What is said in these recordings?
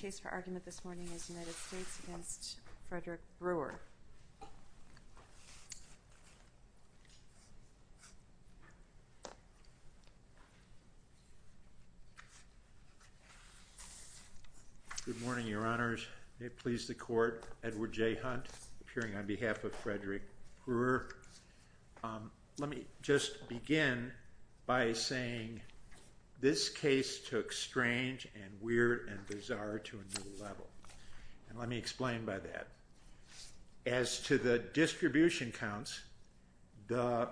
Good morning, Your Honors. May it please the Court, Edward J. Hunt, appearing on behalf of Frederick Brewer. Let me just begin by saying this case took strange and weird and bizarre to a new level. Let me explain by that. As to the distribution counts, the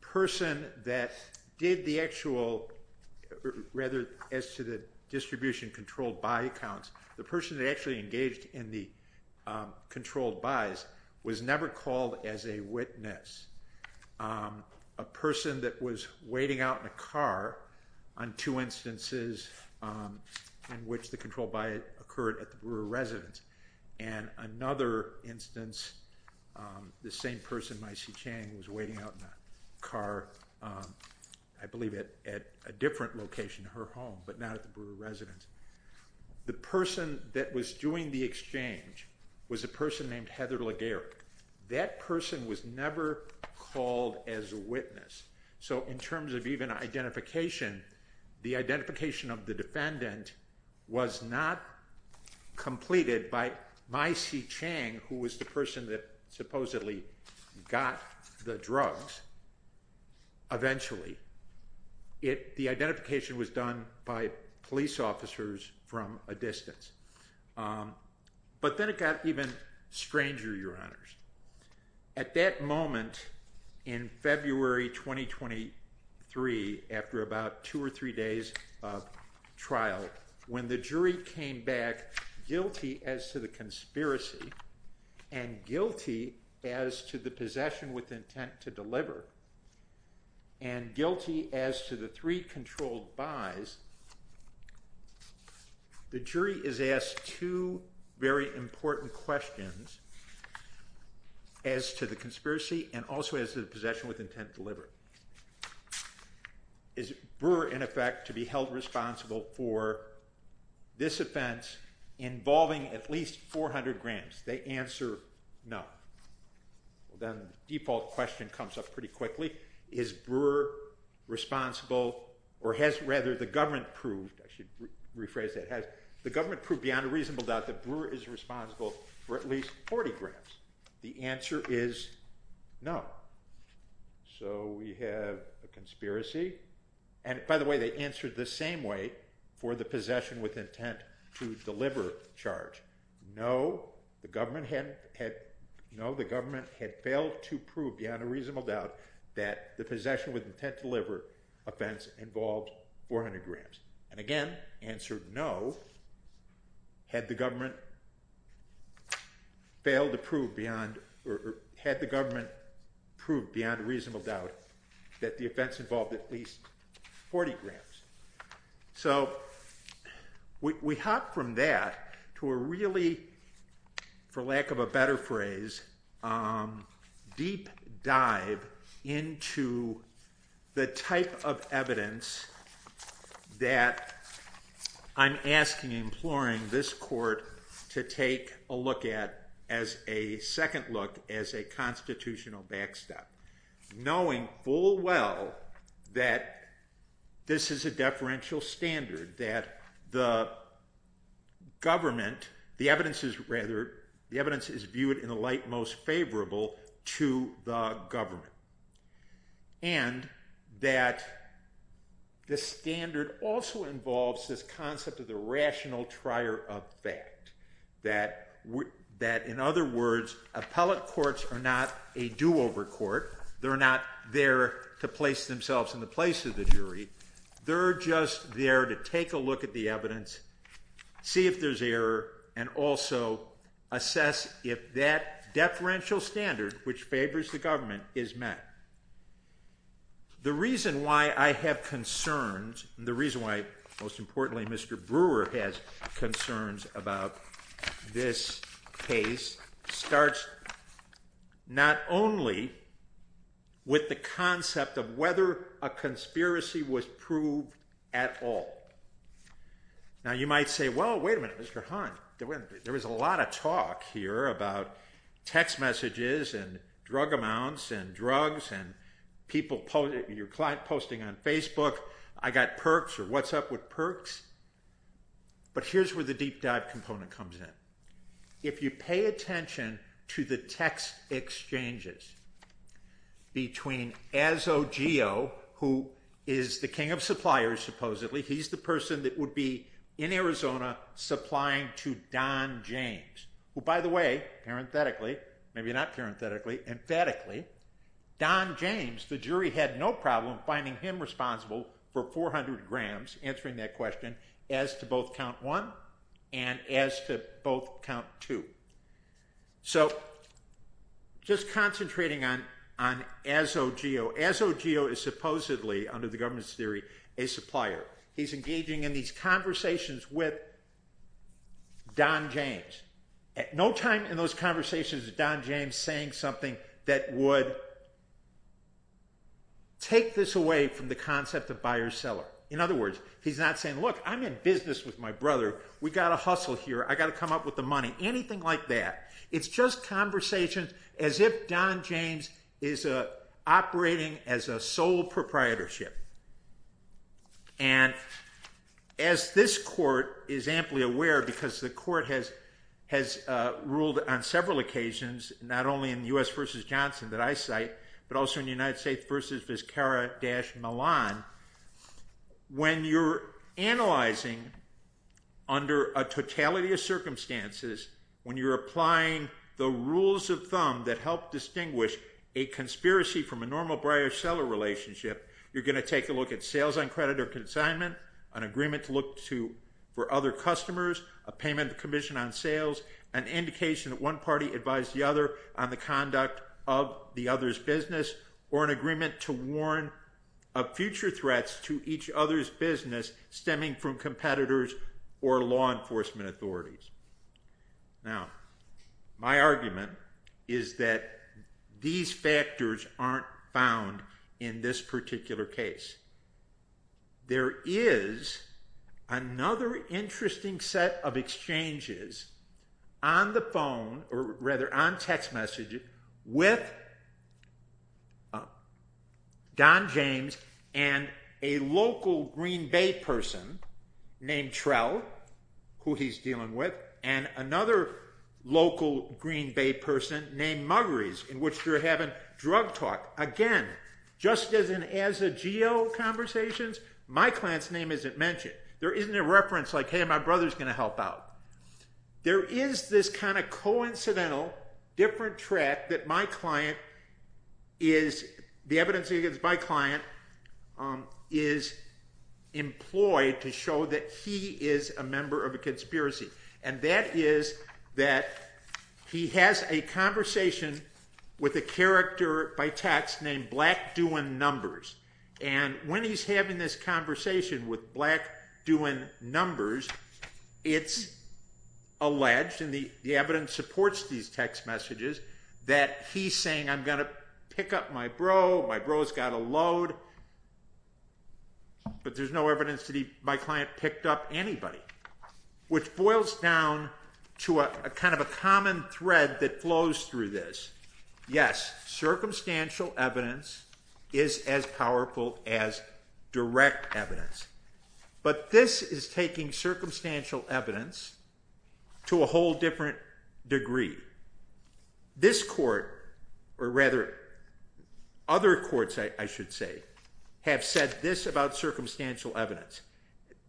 person that did the actual, rather as to the distribution controlled buy counts, the person that actually engaged in the controlled buys was never called as a witness. A person that was waiting out in a car on two instances in which the controlled buy occurred at the Brewer residence and another instance, the same person, Maisie Chang, was waiting out in a car, I believe, at a different location, her home, but not at the Brewer residence. The person that was doing the exchange was a person named Heather Legarek. That person was never called as a witness. So in terms of even identification, the identification of the defendant was not completed by Maisie Chang, who was the person that supposedly got the drugs. Eventually, the identification was done by police officers from a distance. But then it got even stranger, Your Honors. At that moment, in February 2023, after about two or three days of trial, when the jury came back guilty as to the conspiracy and guilty as to the possession with intent to deliver and guilty as to the three controlled buys, the jury is asked two very important questions as to the conspiracy and also as to the possession with intent to deliver. Is Brewer, in effect, to be held responsible for this offense involving at least 400 grams? They answer no. Then the default question comes up pretty quickly. Is Brewer responsible, or has rather the government proved, I should rephrase that, has the government proved beyond a reasonable doubt that Brewer is responsible for at least 40 grams? The answer is no. So we have a conspiracy. And by the way, they answered the same way for the possession with intent to deliver charge. No, the government had failed to prove beyond a reasonable doubt that the possession with intent to deliver offense involved 400 grams. And again, answered no, had the government failed to prove beyond, or had the government proved beyond a reasonable doubt that the offense involved at least 40 grams. So we hopped from that to a really, for lack of a better phrase, deep dive into the type of evidence that I'm asking, imploring this court to take a look at as a second look as a constitutional backstop. Knowing full well that this is a deferential standard, that the government, the evidence is viewed in the light most favorable to the government. And that the standard also involves this concept of the rational trier of fact. That in other words, appellate courts are not a do-over court. They're not there to place themselves in the place of the jury. They're just there to take a look at the evidence, see if there's error, and also assess if that deferential standard which favors the government is met. The reason why I have concerns, the reason why most importantly Mr. Brewer has concerns about this case starts not only with the concept of whether a conspiracy was proved at all. Now you might say, well wait a minute Mr. Hahn, there was a lot of talk here about text messages and drug amounts and people, your client posting on Facebook, I got perks or what's up with perks. But here's where the deep dive component comes in. If you pay attention to the text exchanges between Azogio, who is the king of suppliers supposedly, he's the person that would be in Arizona supplying to Don James. Well by the way, parenthetically, maybe not parenthetically, emphatically, Don James, the jury had no problem finding him responsible for 400 grams, answering that question, as to both count one and as to both count two. So just concentrating on Azogio, Azogio is supposedly, under the government's theory, a supplier. He's engaging in these conversations with Don James. At no time in those conversations is Don James saying something that would take this away from the concept of buyer-seller. In other words, he's not saying, look I'm in business with my brother, we gotta hustle here, I gotta come up with the money, anything like that. It's just conversations as if Don James is operating as a sole proprietorship. And as this court is amply aware, because the court has ruled on several occasions, not only in the U.S. v. Johnson that I cite, but also in the United States v. Vizcarra-Milan, when you're analyzing under a totality of circumstances, when you're applying the rules of thumb that help distinguish a conspiracy from a normal buyer-seller relationship, you're going to take a look at sales on credit or consignment, an agreement to look for other customers, a payment of commission on sales, an indication that one party advised the other on the conduct of the other's business, or an agreement to warn of future threats to each other's business stemming from competitors or law enforcement authorities. Now, my argument is that these factors aren't found in this particular case. There is another interesting set of exchanges on the phone, or rather on text messages, with Don James and a local Green Bay person named Trell, who he's dealing with, and another local Green Bay person named Muggrees, in which they're having drug talk. Again, just as in as-a-geo conversations, my client's name isn't mentioned. There isn't a reference like, hey, my brother's going to help out. There is this kind of coincidental, different track that my client is, the evidence against my client, is employed to show that he is a member of a conspiracy. And that is that he has a conversation with a character by text named Black Doing Numbers. And when he's having this conversation with Black Doing Numbers, it's alleged, and the evidence supports these text messages, that he's saying, I'm going to pick up my bro, my bro's got a load, but there's no evidence that my client picked up anybody, which boils down to a kind of a common thread that flows through this. Yes, circumstantial evidence is as powerful as direct evidence. But this is taking circumstantial evidence to a whole different degree. This court, or rather, other courts, I should say, have said this about circumstantial evidence.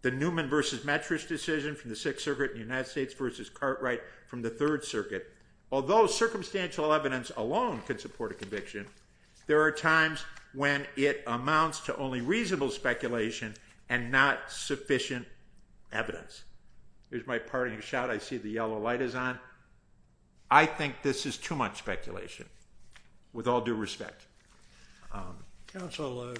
The Newman v. Metrish decision from the Sixth Circuit in the United States v. Cartwright from the Third Circuit. Although circumstantial evidence alone could support a conviction, there are times when it amounts to only reasonable speculation and not sufficient evidence. Here's my parting shot. I see the yellow light is on. I think this is too much speculation, with all due respect. Counsel,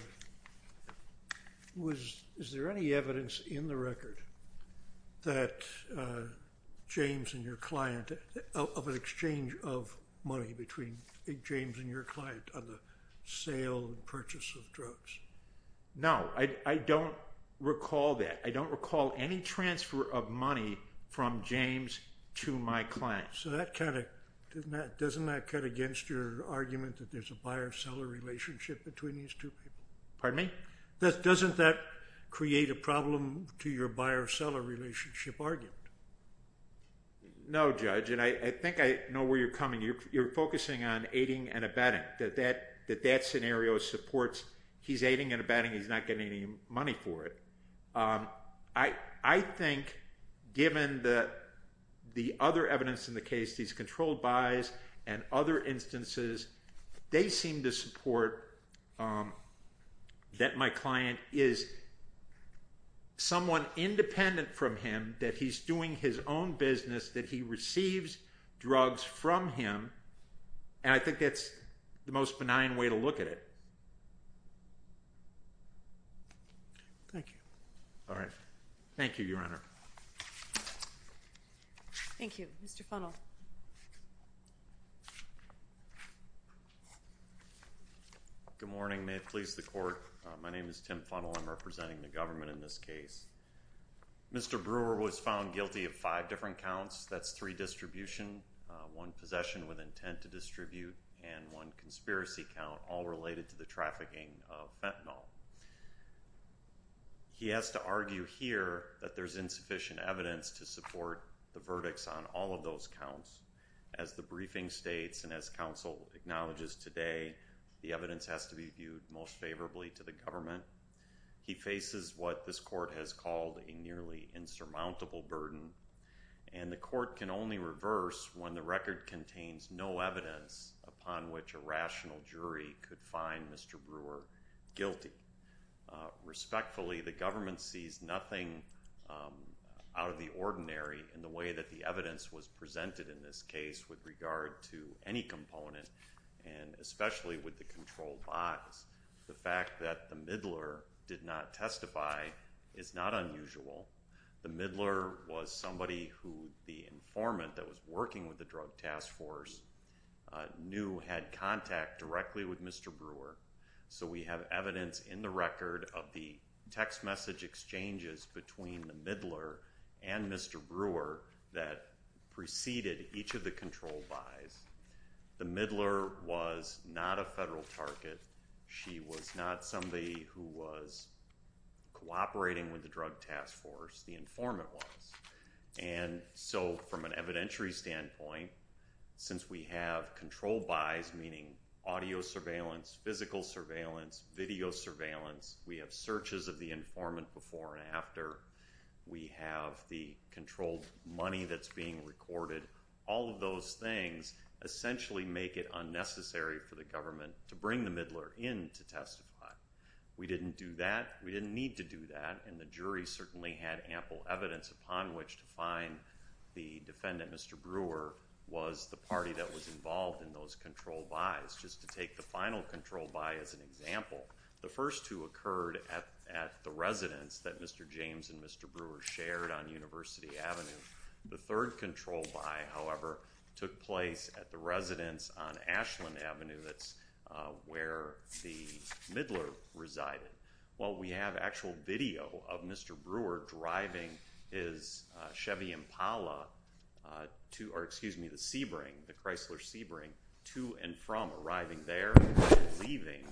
is there any evidence in the record that James and your client, of an exchange of money between James and your client on the sale and purchase of drugs? No, I don't recall that. I don't recall any transfer of money from James to my client. So doesn't that cut against your argument that there's a buyer-seller relationship between these two people? Pardon me? Doesn't that create a problem to your buyer-seller relationship argument? No, Judge, and I think I know where you're coming. You're focusing on aiding and abetting, that that scenario supports he's aiding and abetting, he's not getting any money for it. I think, given the other evidence in the case, these controlled buys and other instances, they seem to support that my client is someone independent from him, that he's doing his own business, that he receives drugs from him, and I think that's the most benign way to look at it. Thank you. All right. Thank you, Your Honor. Thank you. Mr. Funnell. Good morning. May it please the Court, my name is Tim Funnell, I'm representing the government in this case. Mr. Brewer was found guilty of five different counts, that's three distribution, one possession with intent to distribute, and one conspiracy count, all related to the trafficking of fentanyl. He has to argue here that there's insufficient evidence to support the verdicts on all of those counts. As the briefing states and as counsel acknowledges today, the evidence has to be viewed most favorably to the government. He faces what this Court has called a nearly insurmountable burden, and the Court can only reverse when the record contains no evidence upon which a rational jury could find Mr. Brewer guilty. Respectfully, the government sees nothing out of the ordinary in the way that the evidence was presented in this case with regard to any component, and especially with the controlled buys. The fact that the middler did not testify is not unusual. The middler was somebody who the informant that was working with the Drug Task Force knew had contact directly with Mr. Brewer. So we have evidence in the record of the text message exchanges between the middler and Mr. Brewer that preceded each of the controlled buys. The middler was not a federal target. She was not somebody who was cooperating with the Drug Task Force. The informant was. And so from an evidentiary standpoint, since we have controlled buys, meaning audio surveillance, physical surveillance, video surveillance, we have searches of the informant before and after, we have the controlled money that's being recorded, all of those things essentially make it unnecessary for the government to bring the middler in to testify. We didn't do that. We didn't need to do that, and the jury certainly had ample evidence upon which to find the defendant, Mr. Brewer, was the party that was involved in those controlled buys. Just to take the final controlled buy as an example, the first two occurred at the residence that Mr. James and Mr. Brewer shared on University Avenue. The third controlled buy, however, took place at the residence on Ashland Avenue. That's where the middler resided. Well, we have actual video of Mr. Brewer driving his Chevy Impala to, or excuse me, the Sebring, the Chrysler Sebring, to and from arriving there and leaving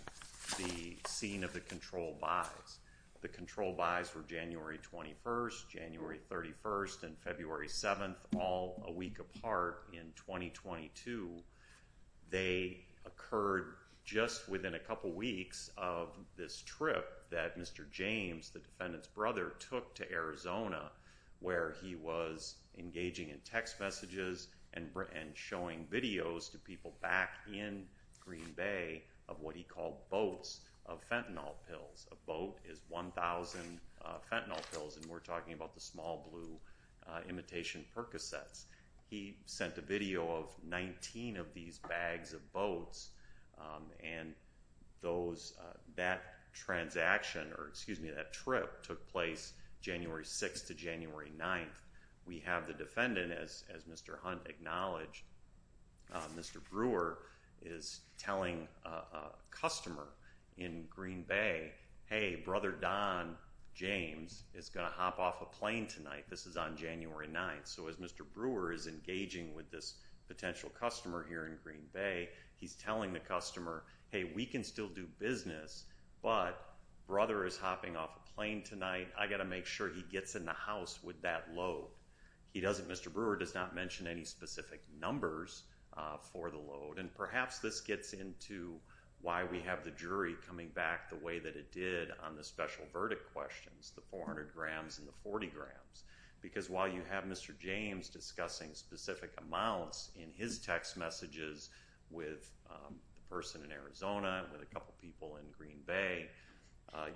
the scene of the controlled buys. The controlled buys were January 21st, January 31st, and February 7th, all a week apart in 2022. They occurred just within a couple weeks of this trip that Mr. James, the defendant's brother, took to Arizona, where he was engaging in text messages and showing videos to people back in Green Bay of what he called boats of fentanyl pills. A boat is 1,000 fentanyl pills, and we're talking about the small blue imitation Percocets. He sent a video of 19 of these bags of boats, and that transaction, or excuse me, that trip took place January 6th to January 9th. We have the defendant, as Mr. Hunt acknowledged, Mr. Brewer is telling a customer in Green Bay, hey, Brother Don James is going to hop off a plane tonight. This is on January 9th, so as Mr. Brewer is engaging with this potential customer here in Green Bay, he's telling the customer, hey, we can still do business, but Brother is hopping off a plane tonight. I got to make sure he gets in the house with that load. He doesn't, Mr. Brewer does not mention any specific numbers for the load, and perhaps this gets into why we have the jury coming back the way that it did on the special verdict questions, the 400 grams and the 40 grams, because while you have Mr. James discussing specific amounts in his text messages with the person in Arizona and with a couple people in Green Bay,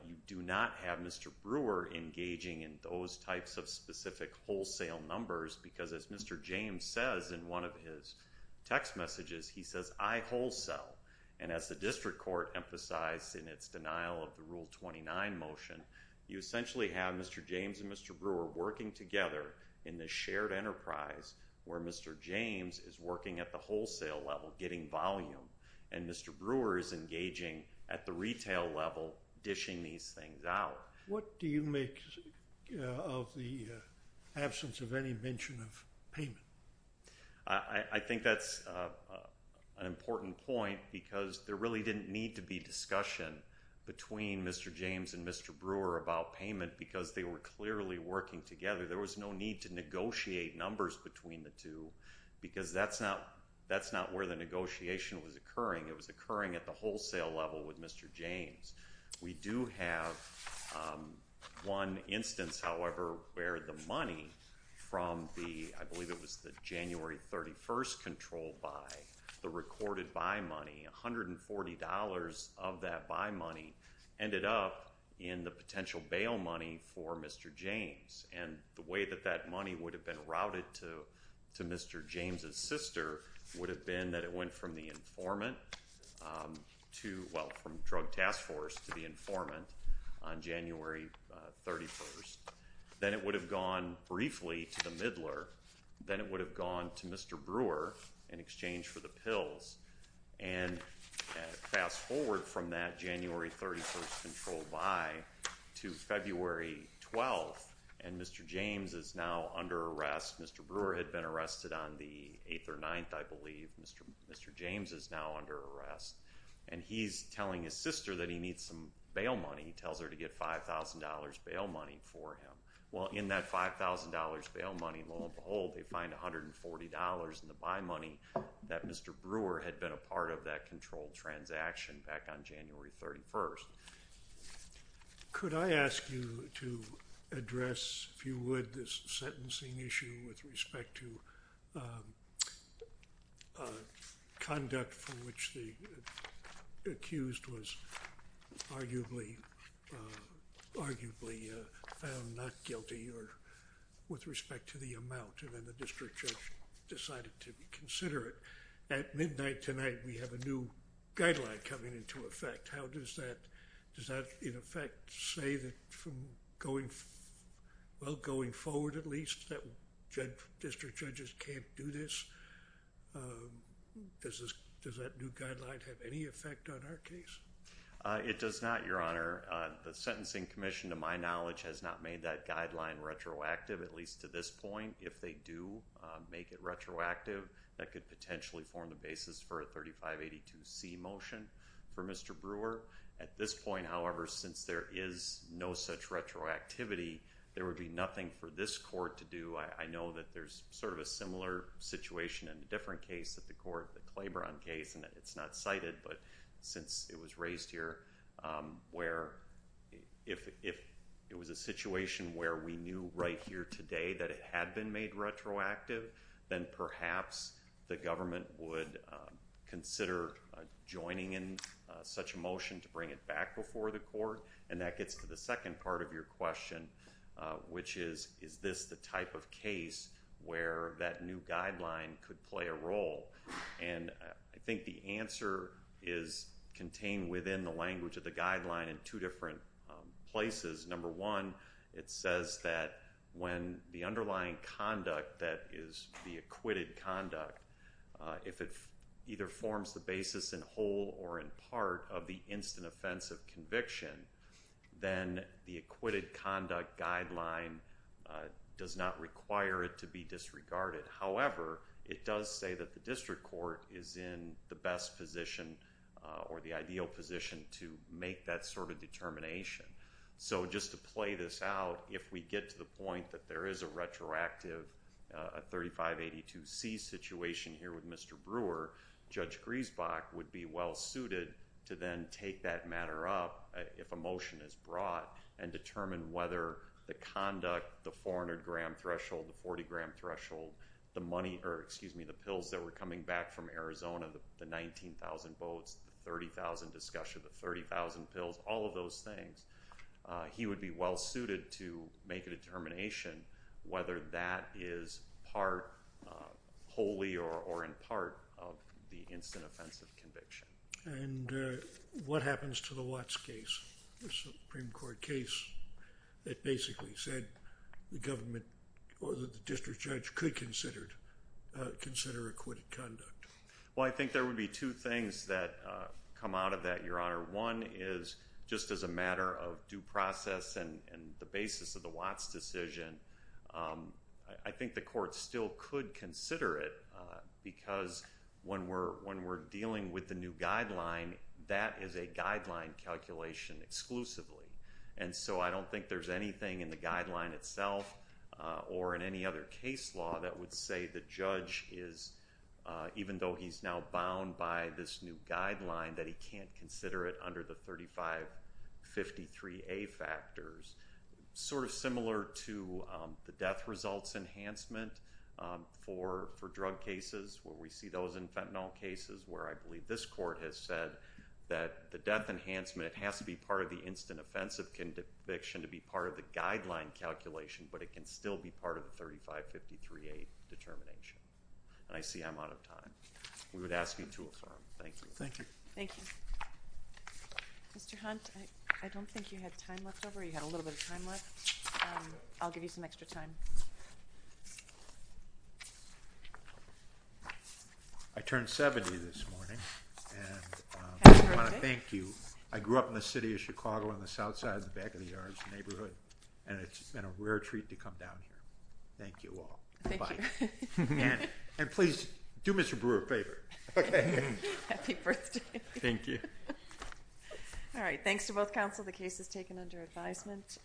you do not have Mr. Brewer engaging in those types of specific wholesale numbers, because as Mr. James says in one of his text messages, he says, I wholesale, and as the district court emphasized in its denial of the Rule 29 motion, you essentially have Mr. James and Mr. Brewer working together in this shared enterprise where Mr. James is working at the wholesale level, getting volume, and Mr. Brewer is engaging at the retail level, dishing these things out. What do you make of the absence of any mention of payment? I think that's an important point because there really didn't need to be discussion between Mr. James and Mr. Brewer about payment because they were clearly working together. There was no need to negotiate numbers between the two because that's not where the negotiation was occurring. It was occurring at the wholesale level with Mr. James. We do have one instance, however, where the money from the, I believe it was the January 31st control buy, the recorded buy money, $140 of that buy money ended up in the potential bail money for Mr. James, and the way that that money would have been routed to Mr. James' sister would have been that it went from the informant to, well, from drug task force to the informant on January 31st. Then it would have gone briefly to the middler. Then it would have gone to Mr. Brewer in exchange for the pills. Fast forward from that January 31st control buy to February 12th, and Mr. James is now under arrest. Mr. Brewer had been arrested on the 8th or 9th, I believe. Mr. James is now under arrest, and he's telling his sister that he needs some bail money. He tells her to get $5,000 bail money for him. Well, in that $5,000 bail money, lo and behold, they find $140 in the buy money that Mr. Brewer had been a part of that control transaction back on January 31st. Could I ask you to address, if you would, this sentencing issue with respect to conduct from which the accused was arguably found not guilty with respect to the amount, and then the district judge decided to consider it. At midnight tonight, we have a new guideline coming into effect. Does that, in effect, say that going forward at least that district judges can't do this? Does that new guideline have any effect on our case? It does not, Your Honor. The Sentencing Commission, to my knowledge, has not made that guideline retroactive, at least to this point. If they do make it retroactive, that could potentially form the basis for a 3582C motion for Mr. Brewer. At this point, however, since there is no such retroactivity, there would be nothing for this court to do. I know that there's sort of a similar situation in a different case at the court, the Claiborne case, and it's not cited, but since it was raised here, where if it was a situation where we knew right here today that it had been made retroactive, then perhaps the government would consider joining in such a motion to bring it back before the court. And that gets to the second part of your question, which is, is this the type of case where that new guideline could play a role? And I think the answer is contained within the language of the guideline in two different places. Number one, it says that when the underlying conduct that is the acquitted conduct, if it either forms the basis in whole or in part of the instant offense of conviction, then the acquitted conduct guideline does not require it to be disregarded. However, it does say that the district court is in the best position or the ideal position to make that sort of determination. So just to play this out, if we get to the point that there is a retroactive 3582C situation here with Mr. Brewer, Judge Griesbach would be well suited to then take that matter up, if a motion is brought, and determine whether the conduct, the 400-gram threshold, the 40-gram threshold, the pills that were coming back from Arizona, the 19,000 votes, the 30,000 discussion, the 30,000 pills, all of those things, he would be well suited to make a determination whether that is part wholly or in part of the instant offense of conviction. And what happens to the Watts case, the Supreme Court case that basically said the government or the district judge could consider acquitted conduct? Well, I think there would be two things that come out of that, Your Honor. One is just as a matter of due process and the basis of the Watts decision, I think the court still could consider it because when we're dealing with the new guideline, that is a guideline calculation exclusively. And so I don't think there's anything in the guideline itself or in any other case law that would say the judge is, even though he's now bound by this new guideline, that he can't consider it under the 3553A factors. Sort of similar to the death results enhancement for drug cases, where we see those in fentanyl cases where I believe this court has said that the death enhancement has to be part of the instant offense of conviction to be part of the guideline calculation, but it can still be part of the 3553A determination. And I see I'm out of time. We would ask you to adjourn. Thank you. Thank you. Mr. Hunt, I don't think you had time left over. You had a little bit of time left. I'll give you some extra time. I turned 70 this morning. And I want to thank you. I grew up in the city of Chicago on the south side of the back of the yard. It's a neighborhood. And it's been a rare treat to come down here. Thank you all. Thank you. And please do Mr. Brewer a favor. Happy birthday. Thank you. All right. Thanks to both counsel. The case is taken under advisement.